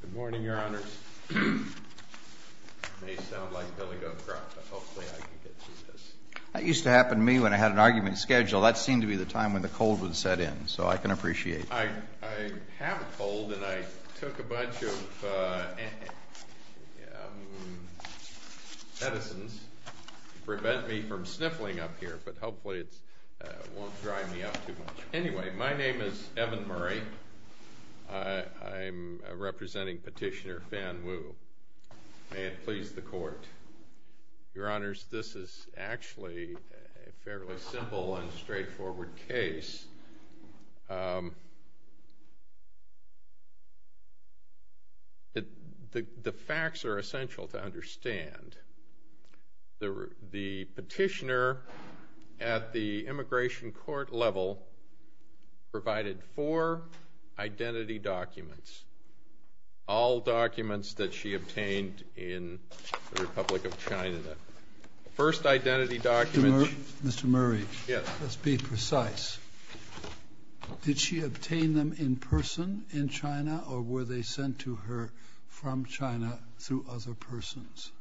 Good morning, Your Honors. It may sound like Billy Goatcroft, but hopefully I can get through this. That used to happen to me when I had an argument schedule. That seemed to be the time when the cold would set in, so I can appreciate that. I have a cold, and I took a bunch of medicines to prevent me from sniffling up here, but hopefully it won't dry me up too much. Anyway, my name is Evan Murray. I'm representing Petitioner Fan Wu. May it The facts are essential to understand. The petitioner at the immigration court level provided four identity documents, all documents that she obtained in the Republic of China. The first identity document— Mr. Murray, let's be precise. Did she obtain them in person in China, or were they sent to her from China through other persons?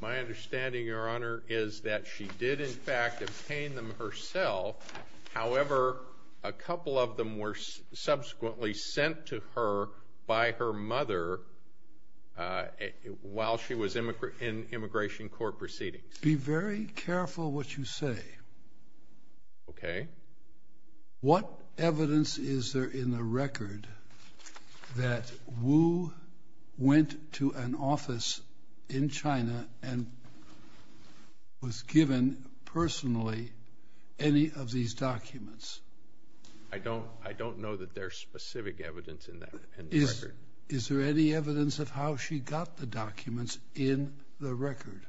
My understanding, Your Honor, is that she did in fact obtain them herself. However, a couple of them were subsequently sent to her by her mother while she was in immigration court proceedings. Be very careful what you say. Okay. What evidence is there in the record that Wu went to an office in China and was given personally any of these documents? I don't know that there's specific evidence in that record. Is there any evidence of how she got the documents in the record?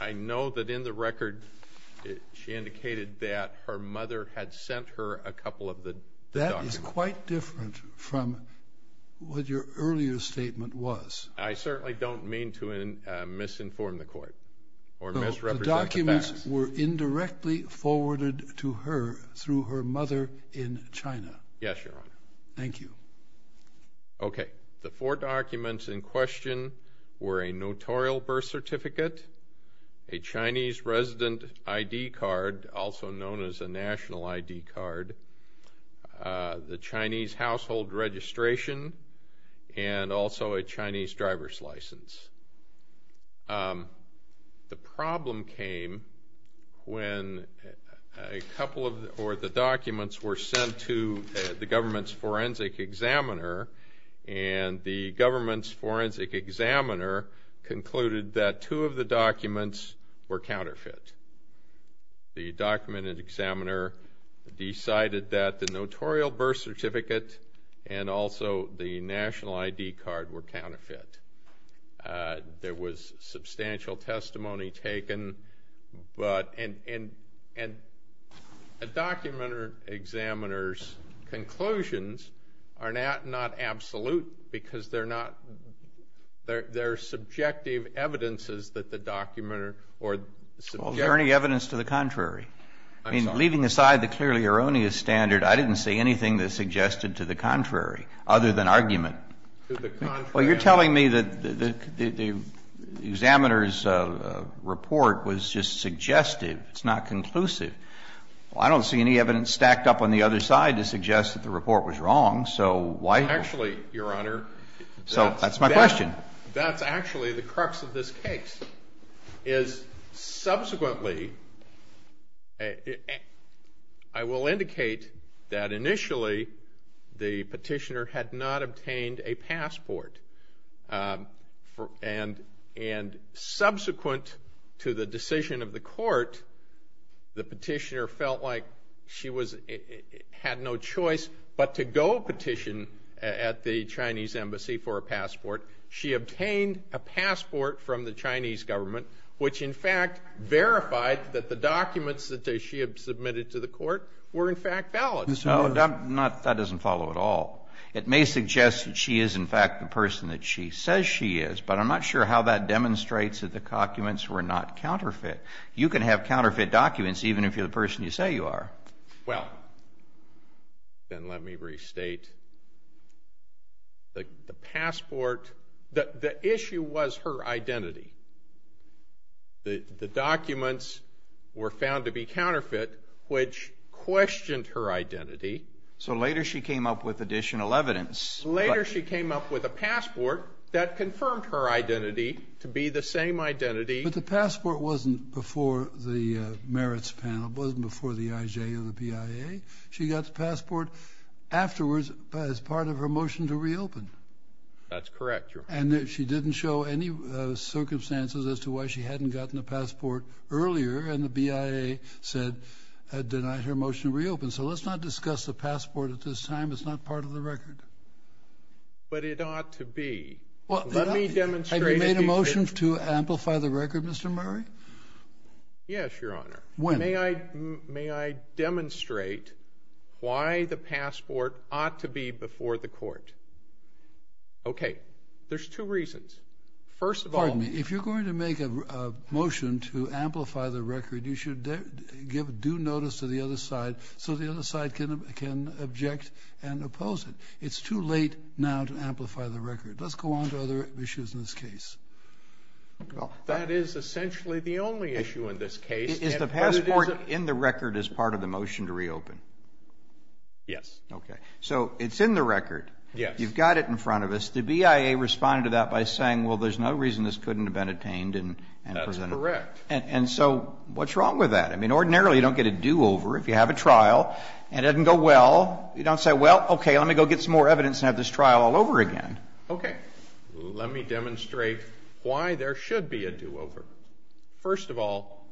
I know that in the record she indicated that her mother had sent her a couple of the documents. That is quite different from what your earlier statement was. I certainly don't mean to misinform the court or misrepresent the facts. The documents were indirectly forwarded to her through her mother in China. Yes, Your Honor, the four documents in question were a notarial birth certificate, a Chinese resident ID card, also known as a national ID card, the Chinese household registration, and also a Chinese driver's license. The problem came when a couple of the documents were sent to the government's forensic examiner, and the government's forensic examiner concluded that two of the documents were counterfeit. The documented examiner decided that the notarial birth certificate and also the national ID card were counterfeit. There was substantial testimony taken, and a documented examiner's conclusions are not absolute because they're subjective evidences that the documenter or the subject... Well, is there any evidence to the contrary? I mean, leaving aside the clearly erroneous standard, I didn't see anything that suggested to the contrary other than argument. To the contrary... The report was just suggestive. It's not conclusive. Well, I don't see any evidence stacked up on the other side to suggest that the report was wrong, so why... Actually, Your Honor... So that's my question. That's actually the crux of this case, is subsequently... I will indicate that initially the petitioner had not obtained a passport, and subsequent to the decision of the court, the petitioner felt like she had no choice but to go petition at the Chinese embassy for a passport. She obtained a passport from the Chinese government, which in fact verified that the documents that she had submitted to the court were in fact valid. No, that doesn't follow at all. It may suggest that she is in fact the person that she says she is, but I'm not sure how that demonstrates that the documents were not counterfeit. You can have counterfeit documents even if you're the person you say you are. Well, then let me restate. The passport, the issue was her identity. The documents were So later she came up with additional evidence. Later she came up with a passport that confirmed her identity to be the same identity... But the passport wasn't before the merits panel, it wasn't before the IJ or the BIA. She got the passport afterwards as part of her motion to reopen. That's correct, Your Honor. And she didn't show any circumstances as to why she hadn't gotten a passport earlier, and the BIA denied her motion to reopen. So let's not discuss the passport at this time. It's not part of the record. But it ought to be. Let me demonstrate... Have you made a motion to amplify the record, Mr. Murray? Yes, Your Honor. When? May I demonstrate why the passport ought to be before the court? Okay. There's two reasons. First of all... you should give due notice to the other side so the other side can object and oppose it. It's too late now to amplify the record. Let's go on to other issues in this case. That is essentially the only issue in this case. Is the passport in the record as part of the motion to reopen? Yes. Okay. So it's in the record. Yes. You've got it in front of us. The BIA responded to that by saying, well, there's no reason this couldn't have been obtained and presented. That's correct. And so what's wrong with that? I mean, ordinarily you don't get a do-over if you have a trial and it didn't go well. You don't say, well, okay, let me go get some more evidence and have this trial all over again. Okay. Let me demonstrate why there should be a do-over. First of all,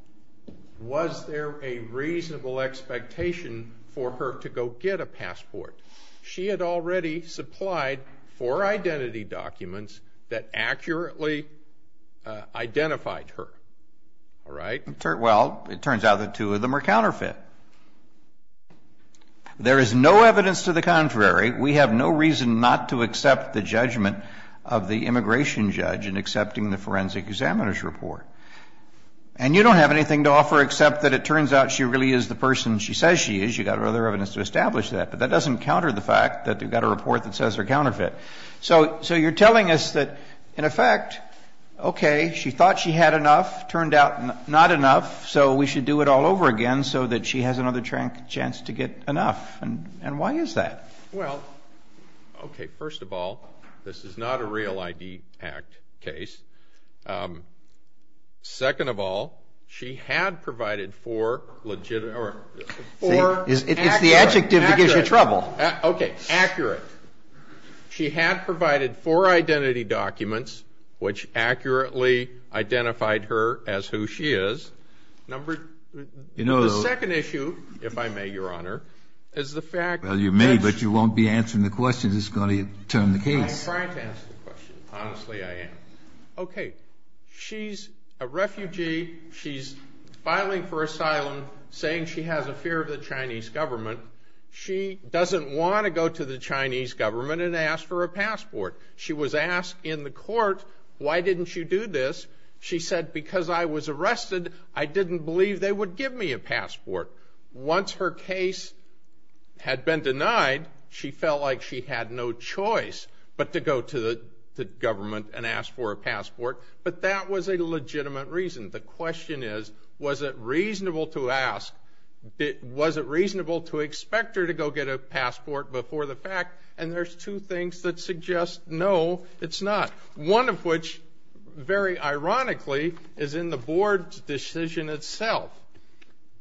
was there a reasonable expectation for her to go get a passport? She had already supplied four identity documents that accurately identified her. All right? Well, it turns out the two of them are counterfeit. There is no evidence to the contrary. We have no reason not to accept the judgment of the immigration judge in accepting the forensic examiner's report. And you don't have anything to offer except that it turns out she really is the person she says she is. You've got other evidence to establish that. But that doesn't counter the fact that you've got a report that says they're counterfeit. So you're telling us that, in effect, okay, she thought she had enough, turned out not enough, so we should do it all over again so that she has another chance to get enough. And why is that? Well, okay, first of all, this is not a real ID act case. Second of all, she had provided four legitimate or four accurate. It's the adjective that gives you trouble. Okay. Accurate. She had provided four identity documents which accurately identified her as who she is. The second issue, if I may, Your Honor, is the fact that she. Well, you may, but you won't be answering the questions. I'm trying to answer the question. Honestly, I am. Okay. She's a refugee. She's filing for asylum, saying she has a fear of the Chinese government. She doesn't want to go to the Chinese government and ask for a passport. She was asked in the court, why didn't you do this? She said, because I was arrested, I didn't believe they would give me a passport. Once her case had been denied, she felt like she had no choice but to go to the government and ask for a passport. But that was a legitimate reason. The question is, was it reasonable to ask? Was it reasonable to expect her to go get a passport before the fact? And there's two things that suggest, no, it's not. One of which, very ironically, is in the board's decision itself.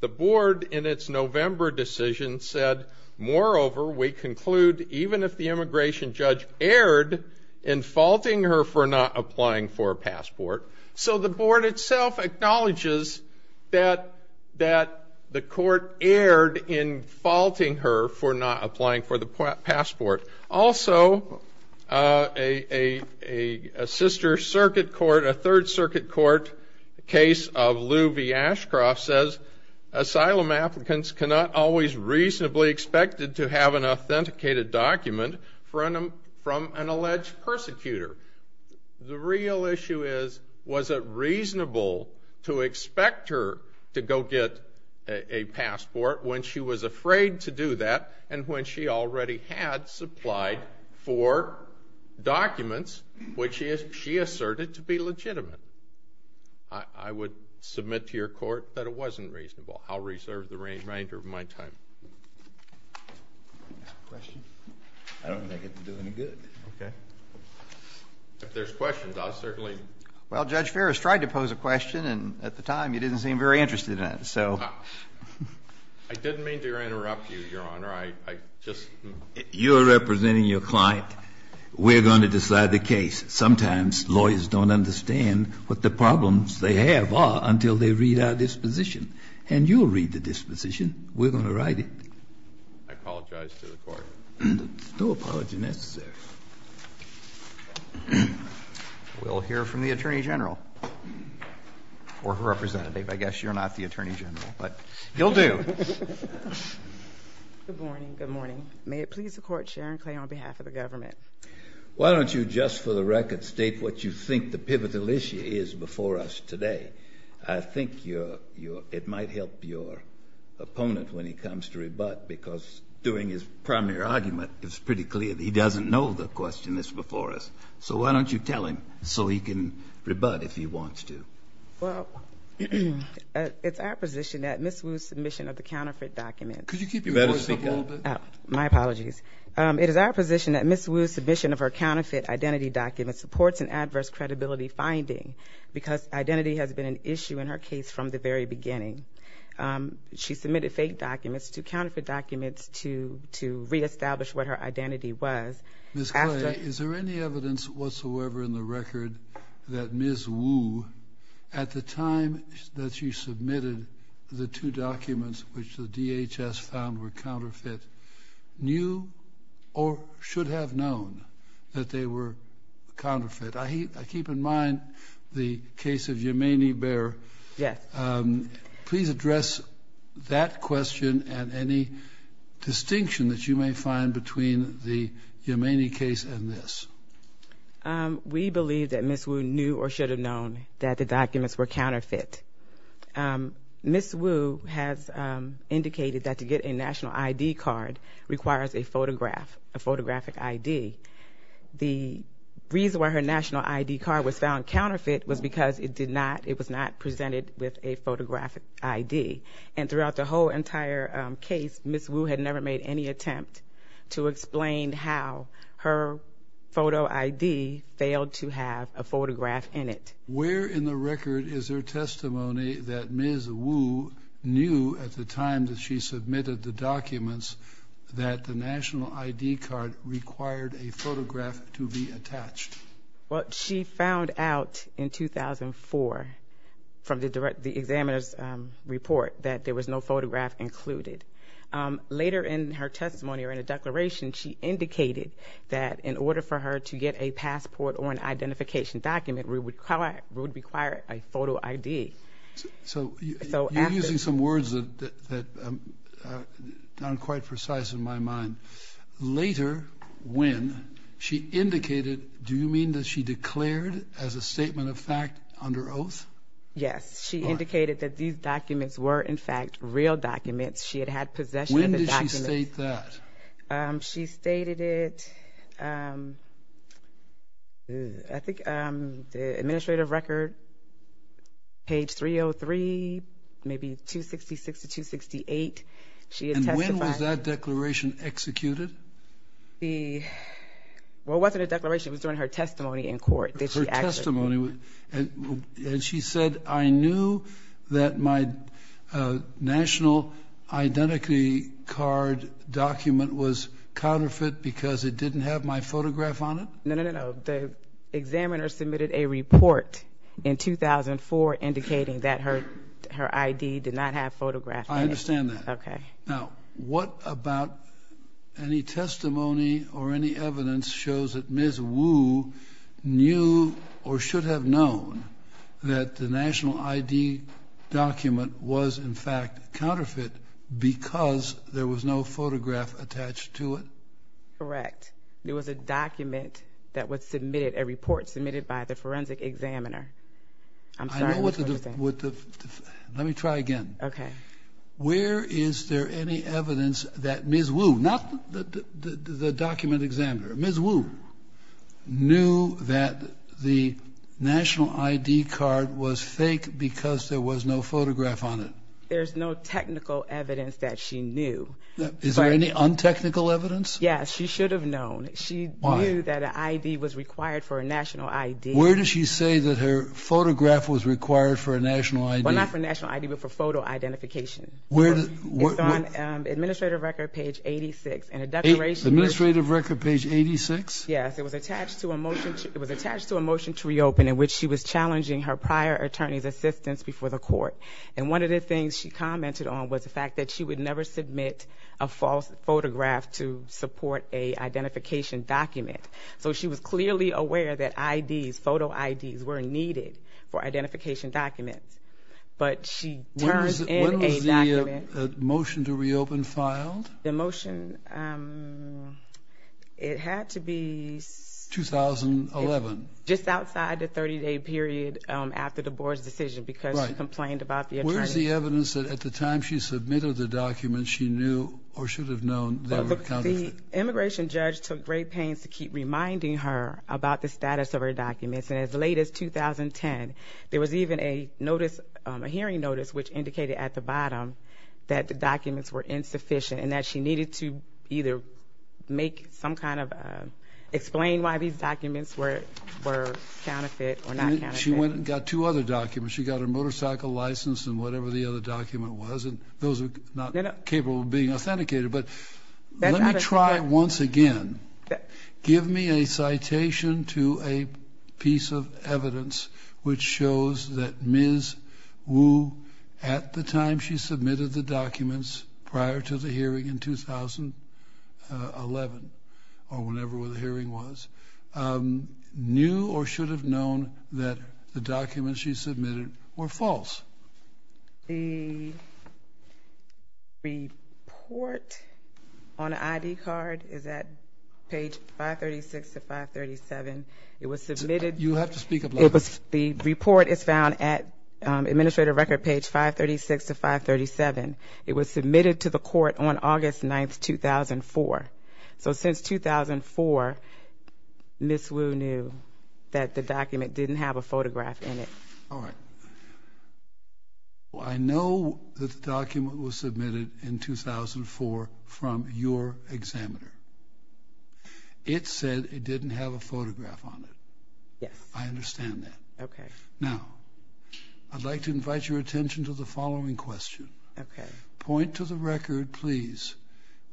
The board, in its November decision, said, moreover, we conclude even if the immigration judge erred in faulting her for not applying for a passport. So the board itself acknowledges that the court erred in faulting her for not applying for the passport. Also, a sister circuit court, a third circuit court case of Lou V. Ashcroft says, asylum applicants cannot always reasonably expect to have an authenticated document from an alleged persecutor. The real issue is, was it reasonable to expect her to go get a passport when she was afraid to do that and when she already had supplied four documents which she asserted to be legitimate? I would submit to your court that it wasn't reasonable. I'll reserve the remainder of my time. Question? I don't think it would do any good. Okay. If there's questions, I'll certainly. Well, Judge Ferris tried to pose a question, and at the time, you didn't seem very interested in it. I didn't mean to interrupt you, Your Honor. You're representing your client. We're going to decide the case. Sometimes lawyers don't understand what the problems they have are until they read our disposition. And you'll read the disposition. We're going to write it. I apologize to the Court. No apology necessary. We'll hear from the Attorney General or her representative. I guess you're not the Attorney General, but you'll do. Good morning. Good morning. May it please the Court, Sharon Clay on behalf of the government. Why don't you just for the record state what you think the pivotal issue is before us today? I think it might help your opponent when he comes to rebut, because doing his primary argument, it's pretty clear that he doesn't know the question that's before us. So why don't you tell him so he can rebut if he wants to? Well, it's our position that Ms. Wu's submission of the counterfeit documents Could you keep your voice up a little bit? My apologies. It is our position that Ms. Wu's submission of her counterfeit identity documents supports an adverse credibility finding because identity has been an issue in her case from the very beginning. She submitted fake documents to counterfeit documents to reestablish what her identity was. Ms. Clay, is there any evidence whatsoever in the record that Ms. Wu, at the time that she submitted the two documents which the DHS found were counterfeit, knew or should have known that they were counterfeit? I keep in mind the case of Yemeni Bear. Yes. Please address that question and any distinction that you may find between the Yemeni case and this. We believe that Ms. Wu knew or should have known that the documents were counterfeit. Ms. Wu has indicated that to get a national ID card requires a photograph, a photographic ID. The reason why her national ID card was found counterfeit was because it was not presented with a photographic ID. And throughout the whole entire case, Ms. Wu had never made any attempt to explain how her photo ID failed to have a photograph in it. Where in the record is there testimony that Ms. Wu knew at the time that she submitted the documents that the national ID card required a photograph to be attached? Well, she found out in 2004 from the examiner's report that there was no photograph included. Later in her testimony or in a declaration, she indicated that in order for her to get a passport or an identification document, we would require a photo ID. So you're using some words that aren't quite precise in my mind. Later when she indicated, do you mean that she declared as a statement of fact under oath? Yes. She indicated that these documents were in fact real documents. She had had possession of the documents. When did she state that? She stated it. I think the administrative record, page 303, maybe 266 to 268. And when was that declaration executed? Well, it wasn't a declaration. It was during her testimony in court. And she said, I knew that my national identity card document was counterfeit because it didn't have my photograph on it? No, no, no. The examiner submitted a report in 2004 indicating that her ID did not have photographs. I understand that. Okay. Now, what about any testimony or any evidence shows that Ms. Wu knew or should have known that the national ID document was, in fact, counterfeit because there was no photograph attached to it? Correct. There was a document that was submitted, a report submitted by the forensic examiner. I'm sorry. Let me try again. Okay. Where is there any evidence that Ms. Wu, not the document examiner, Ms. Wu knew that the national ID card was fake because there was no photograph on it? There's no technical evidence that she knew. Is there any un-technical evidence? Yes. She should have known. Why? She knew that an ID was required for a national ID. Where did she say that her photograph was required for a national ID? Well, not for a national ID, but for photo identification. It's on administrative record page 86. Administrative record page 86? Yes. It was attached to a motion to reopen in which she was challenging her prior attorney's assistance before the court. And one of the things she commented on was the fact that she would never submit a false photograph to support a identification document. So she was clearly aware that IDs, photo IDs, were needed for identification documents. But she turns in a document. When was the motion to reopen filed? The motion, it had to be... 2011. Just outside the 30-day period after the board's decision because she complained about the attorney. Where's the evidence that at the time she submitted the document she knew or should have known there were counterfeits? The immigration judge took great pains to keep reminding her about the status of her documents. And as late as 2010, there was even a notice, a hearing notice, which indicated at the bottom that the documents were insufficient and that she needed to either make some kind of, explain why these documents were counterfeit or not counterfeit. She went and got two other documents. She got her motorcycle license and whatever the other document was. And those are not capable of being authenticated. But let me try once again. Give me a citation to a piece of evidence which shows that Ms. Wu, at the time she submitted the documents prior to the hearing in 2011 or whenever the hearing was, knew or should have known that the documents she submitted were false. The report on the ID card is at page 536 to 537. It was submitted. You have to speak up loud. The report is found at administrative record page 536 to 537. It was submitted to the court on August 9, 2004. So since 2004, Ms. Wu knew that the document didn't have a photograph in it. All right. I know that the document was submitted in 2004 from your examiner. It said it didn't have a photograph on it. Yes. I understand that. Okay. Now, I'd like to invite your attention to the following question. Okay. Point to the record, please,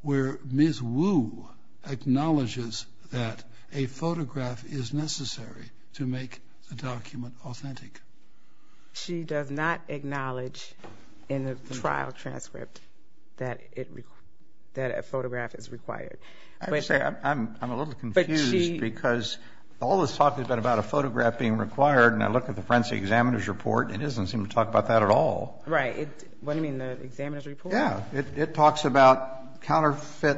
where Ms. Wu acknowledges that a photograph is necessary to make the document authentic. She does not acknowledge in the trial transcript that a photograph is required. I'm a little confused because all this talk has been about a photograph being required, and I look at the forensic examiner's report, it doesn't seem to talk about that at all. Right. What do you mean, the examiner's report? Yeah, it talks about counterfeit.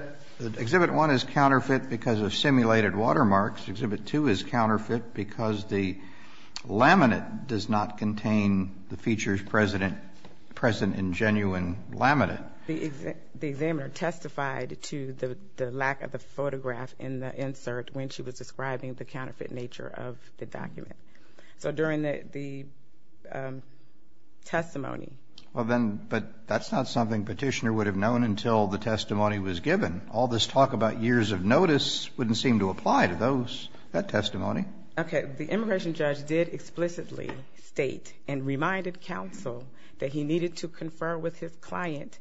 Exhibit 1 is counterfeit because of simulated watermarks. Exhibit 2 is counterfeit because the laminate does not contain the features present in genuine laminate. The examiner testified to the lack of the photograph in the insert So during the testimony. Well, then, but that's not something petitioner would have known until the testimony was given. All this talk about years of notice wouldn't seem to apply to that testimony. Okay. The immigration judge did explicitly state and reminded counsel that he needed to confer with his client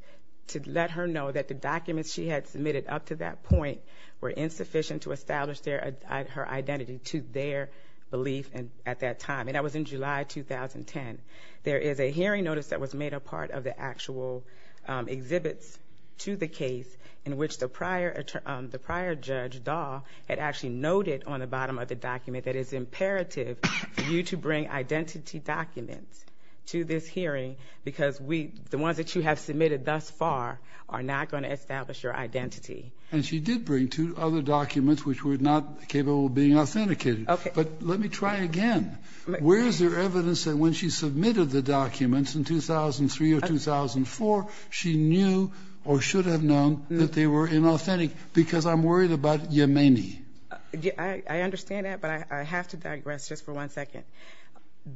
to let her know that the documents she had submitted up to that point were insufficient to establish her identity to their belief at that time, and that was in July 2010. There is a hearing notice that was made a part of the actual exhibits to the case in which the prior judge, Dahl, had actually noted on the bottom of the document that it is imperative for you to bring identity documents to this hearing because the ones that you have submitted thus far are not going to establish your identity. And she did bring two other documents which were not capable of being authenticated. Okay. But let me try again. Where is there evidence that when she submitted the documents in 2003 or 2004, she knew or should have known that they were inauthentic? Because I'm worried about Yemeni. I understand that, but I have to digress just for one second.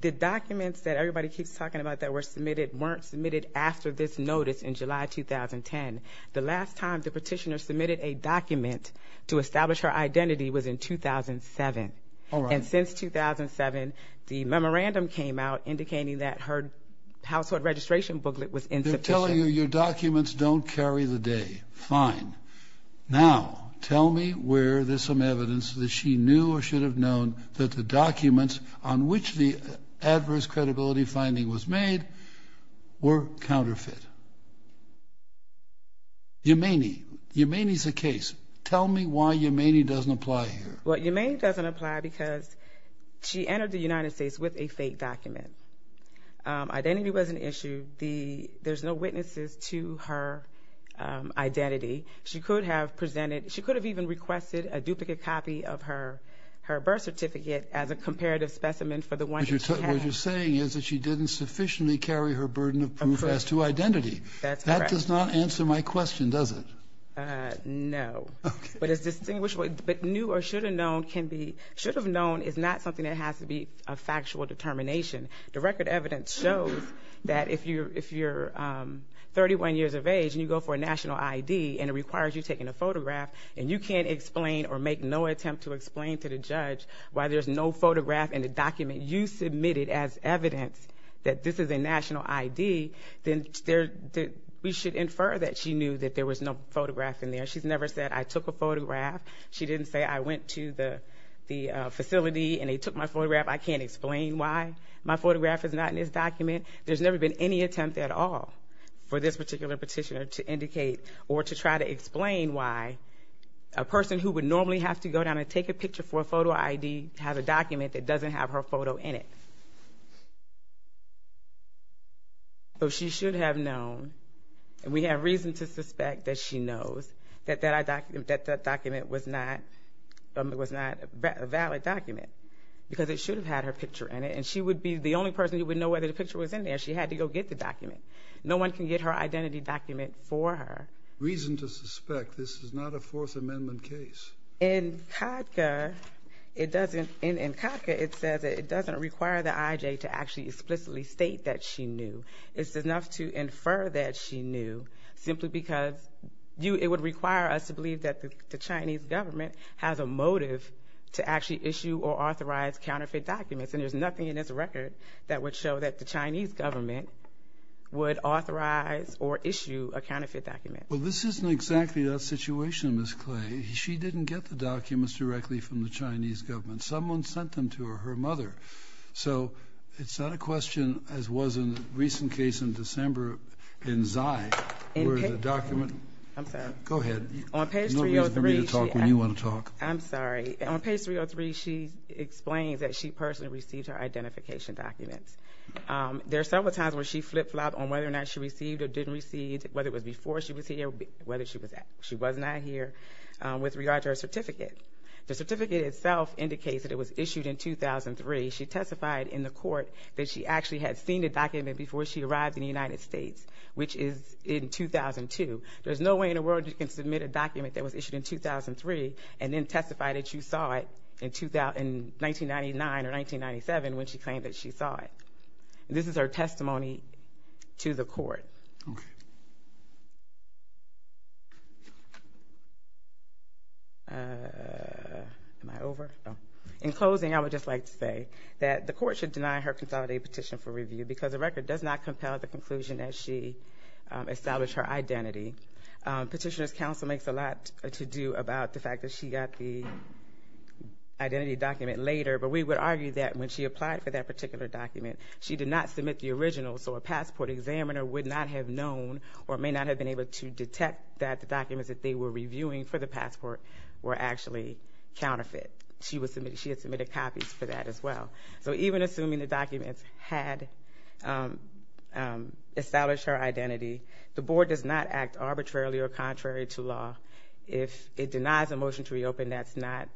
The documents that everybody keeps talking about that were submitted weren't submitted after this notice in July 2010. The last time the petitioner submitted a document to establish her identity was in 2007. And since 2007, the memorandum came out indicating that her household registration booklet was insufficient. They're telling you your documents don't carry the day. Fine. Now tell me where there's some evidence that she knew or should have known that the documents on which the adverse credibility finding was made were counterfeit. Yemeni. Yemeni's the case. Tell me why Yemeni doesn't apply here. Well, Yemeni doesn't apply because she entered the United States with a fake document. Identity was an issue. There's no witnesses to her identity. She could have even requested a duplicate copy of her birth certificate as a comparative specimen for the one that she had. What you're saying is that she didn't sufficiently carry her burden of proof as to identity. That's correct. That does not answer my question, does it? No. But new or should have known is not something that has to be a factual determination. The record evidence shows that if you're 31 years of age and you go for a national ID and it requires you taking a photograph and you can't explain or make no attempt to explain to the judge why there's no photograph in the document you submitted as evidence that this is a national ID, then we should infer that she knew that there was no photograph in there. She's never said, I took a photograph. She didn't say, I went to the facility and they took my photograph. I can't explain why my photograph is not in this document. There's never been any attempt at all for this particular petitioner to indicate or to try to explain why a person who would normally have to go down and take a picture for a photo ID has a document that doesn't have her photo in it. So she should have known, and we have reason to suspect that she knows, that that document was not a valid document because it should have had her picture in it. And she would be the only person who would know whether the picture was in there. She had to go get the document. No one can get her identity document for her. Reason to suspect this is not a Fourth Amendment case. In CADCA it doesn't require the IJ to actually explicitly state that she knew. It's enough to infer that she knew simply because it would require us to believe that the Chinese government has a motive to actually issue or authorize counterfeit documents, and there's nothing in this record that would show that the Chinese government would authorize or issue a counterfeit document. Well, this isn't exactly that situation, Ms. Clay. She didn't get the documents directly from the Chinese government. Someone sent them to her, her mother. So it's not a question, as was in the recent case in December in Xi, where the document— I'm sorry. Go ahead. There's no reason for me to talk when you want to talk. I'm sorry. On page 303 she explains that she personally received her identification documents. There are several times where she flip-flopped on whether or not she received or didn't receive, whether it was before she was here, whether she was not here, with regard to her certificate. The certificate itself indicates that it was issued in 2003. She testified in the court that she actually had seen the document before she arrived in the United States, which is in 2002. There's no way in the world you can submit a document that was issued in 2003 and then testify that you saw it in 1999 or 1997 when she claimed that she saw it. This is her testimony to the court. Okay. Am I over? In closing, I would just like to say that the court should deny her consolidated petition for review because the record does not compel the conclusion that she established her identity. Petitioner's counsel makes a lot to do about the fact that she got the identity document later, but we would argue that when she applied for that particular document, she did not submit the original, so a passport examiner would not have known or may not have been able to detect that the documents that they were reviewing for the passport were actually counterfeit. She had submitted copies for that as well. So even assuming the documents had established her identity, the board does not act arbitrarily or contrary to law. If it denies a motion to reopen, that's not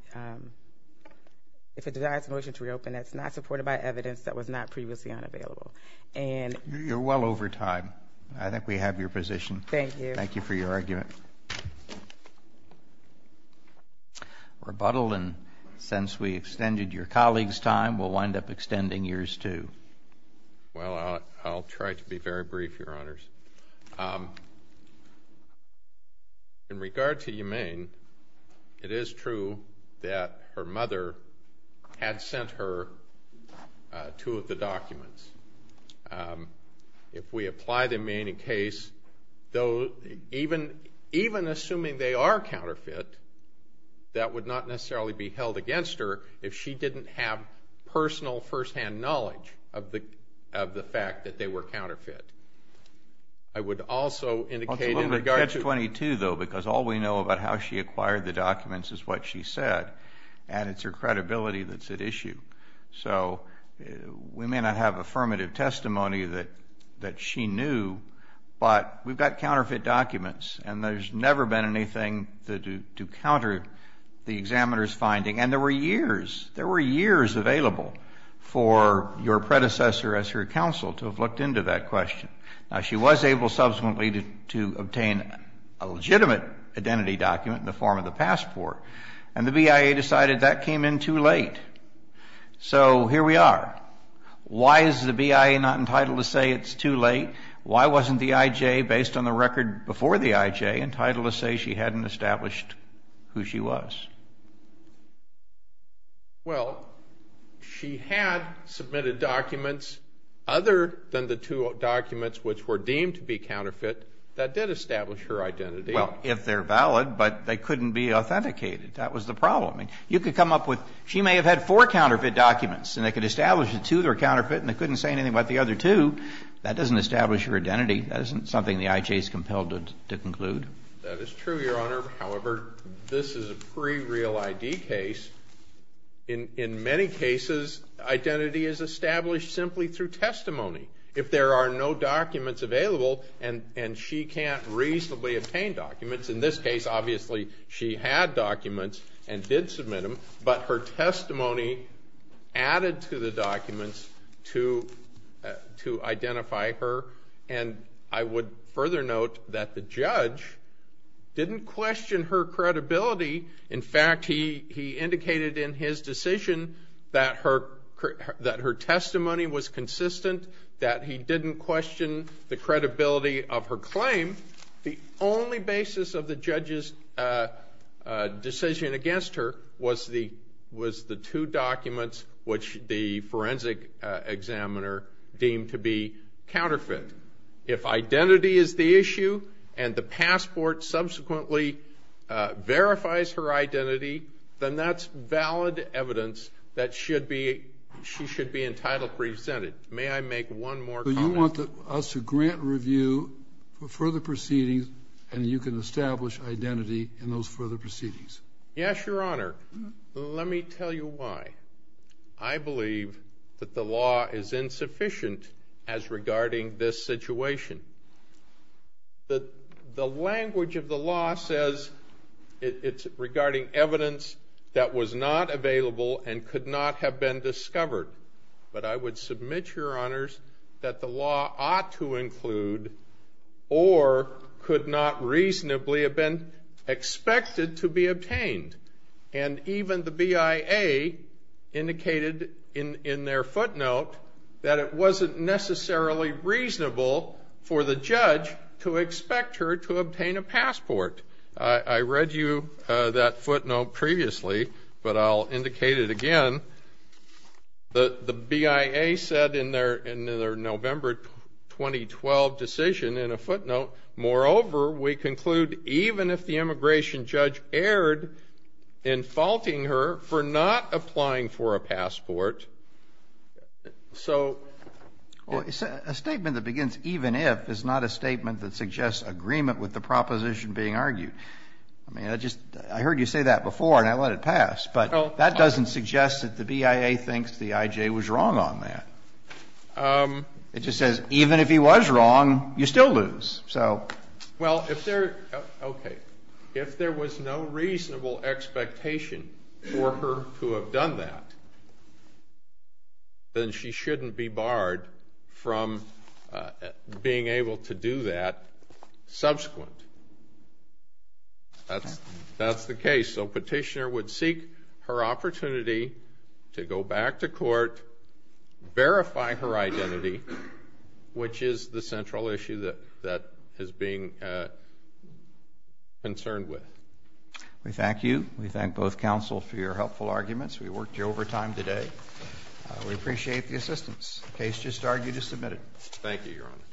supported by evidence that was not previously unavailable. You're well over time. I think we have your position. Thank you. Thank you for your argument. Rebuttal, and since we extended your colleague's time, we'll wind up extending yours too. Well, I'll try to be very brief, Your Honors. In regard to Humane, it is true that her mother had sent her two of the documents. If we apply them in any case, even assuming they are counterfeit, that would not necessarily be held against her if she didn't have personal, firsthand knowledge of the fact that they were counterfeit. I would also indicate in regard to – Well, it's a little bit catch-22, though, because all we know about how she acquired the documents is what she said, and it's her credibility that's at issue. So we may not have affirmative testimony that she knew, but we've got counterfeit documents, and there's never been anything to counter the examiner's finding, and there were years. There were years available for your predecessor as her counsel to have looked into that question. Now, she was able subsequently to obtain a legitimate identity document in the form of the passport, and the BIA decided that came in too late. So here we are. Why is the BIA not entitled to say it's too late? Why wasn't the IJ, based on the record before the IJ, entitled to say she hadn't established who she was? Well, she had submitted documents other than the two documents which were deemed to be counterfeit that did establish her identity. Well, if they're valid, but they couldn't be authenticated. That was the problem. I mean, you could come up with – she may have had four counterfeit documents, and they could establish the two that were counterfeit, and they couldn't say anything about the other two. That doesn't establish her identity. That isn't something the IJ is compelled to conclude. That is true, Your Honor. However, this is a pre-real ID case. In many cases, identity is established simply through testimony. If there are no documents available and she can't reasonably obtain documents, in this case, obviously, she had documents and did submit them, but her testimony added to the documents to identify her. And I would further note that the judge didn't question her credibility. In fact, he indicated in his decision that her testimony was consistent, that he didn't question the credibility of her claim. The only basis of the judge's decision against her was the two documents which the forensic examiner deemed to be counterfeit. If identity is the issue and the passport subsequently verifies her identity, then that's valid evidence that she should be entitled to be presented. May I make one more comment? So you want us to grant review for further proceedings and you can establish identity in those further proceedings? Yes, Your Honor. Let me tell you why. I believe that the law is insufficient as regarding this situation. The language of the law says it's regarding evidence that was not available and could not have been discovered. But I would submit, Your Honors, that the law ought to include or could not reasonably have been expected to be obtained. And even the BIA indicated in their footnote that it wasn't necessarily reasonable for the judge to expect her to obtain a passport. I read you that footnote previously, but I'll indicate it again. The BIA said in their November 2012 decision in a footnote, moreover, we conclude even if the immigration judge erred in faulting her for not applying for a passport, so. A statement that begins even if is not a statement that suggests agreement with the proposition being argued. I mean, I heard you say that before and I let it pass, but that doesn't suggest that the BIA thinks the IJ was wrong on that. It just says even if he was wrong, you still lose, so. Well, if there, okay, if there was no reasonable expectation for her to have done that, then she shouldn't be barred from being able to do that subsequent. That's the case. So petitioner would seek her opportunity to go back to court, verify her identity, which is the central issue that is being concerned with. We thank you. We thank both counsel for your helpful arguments. We worked you over time today. We appreciate the assistance. The case just argued is submitted. Thank you, Your Honor.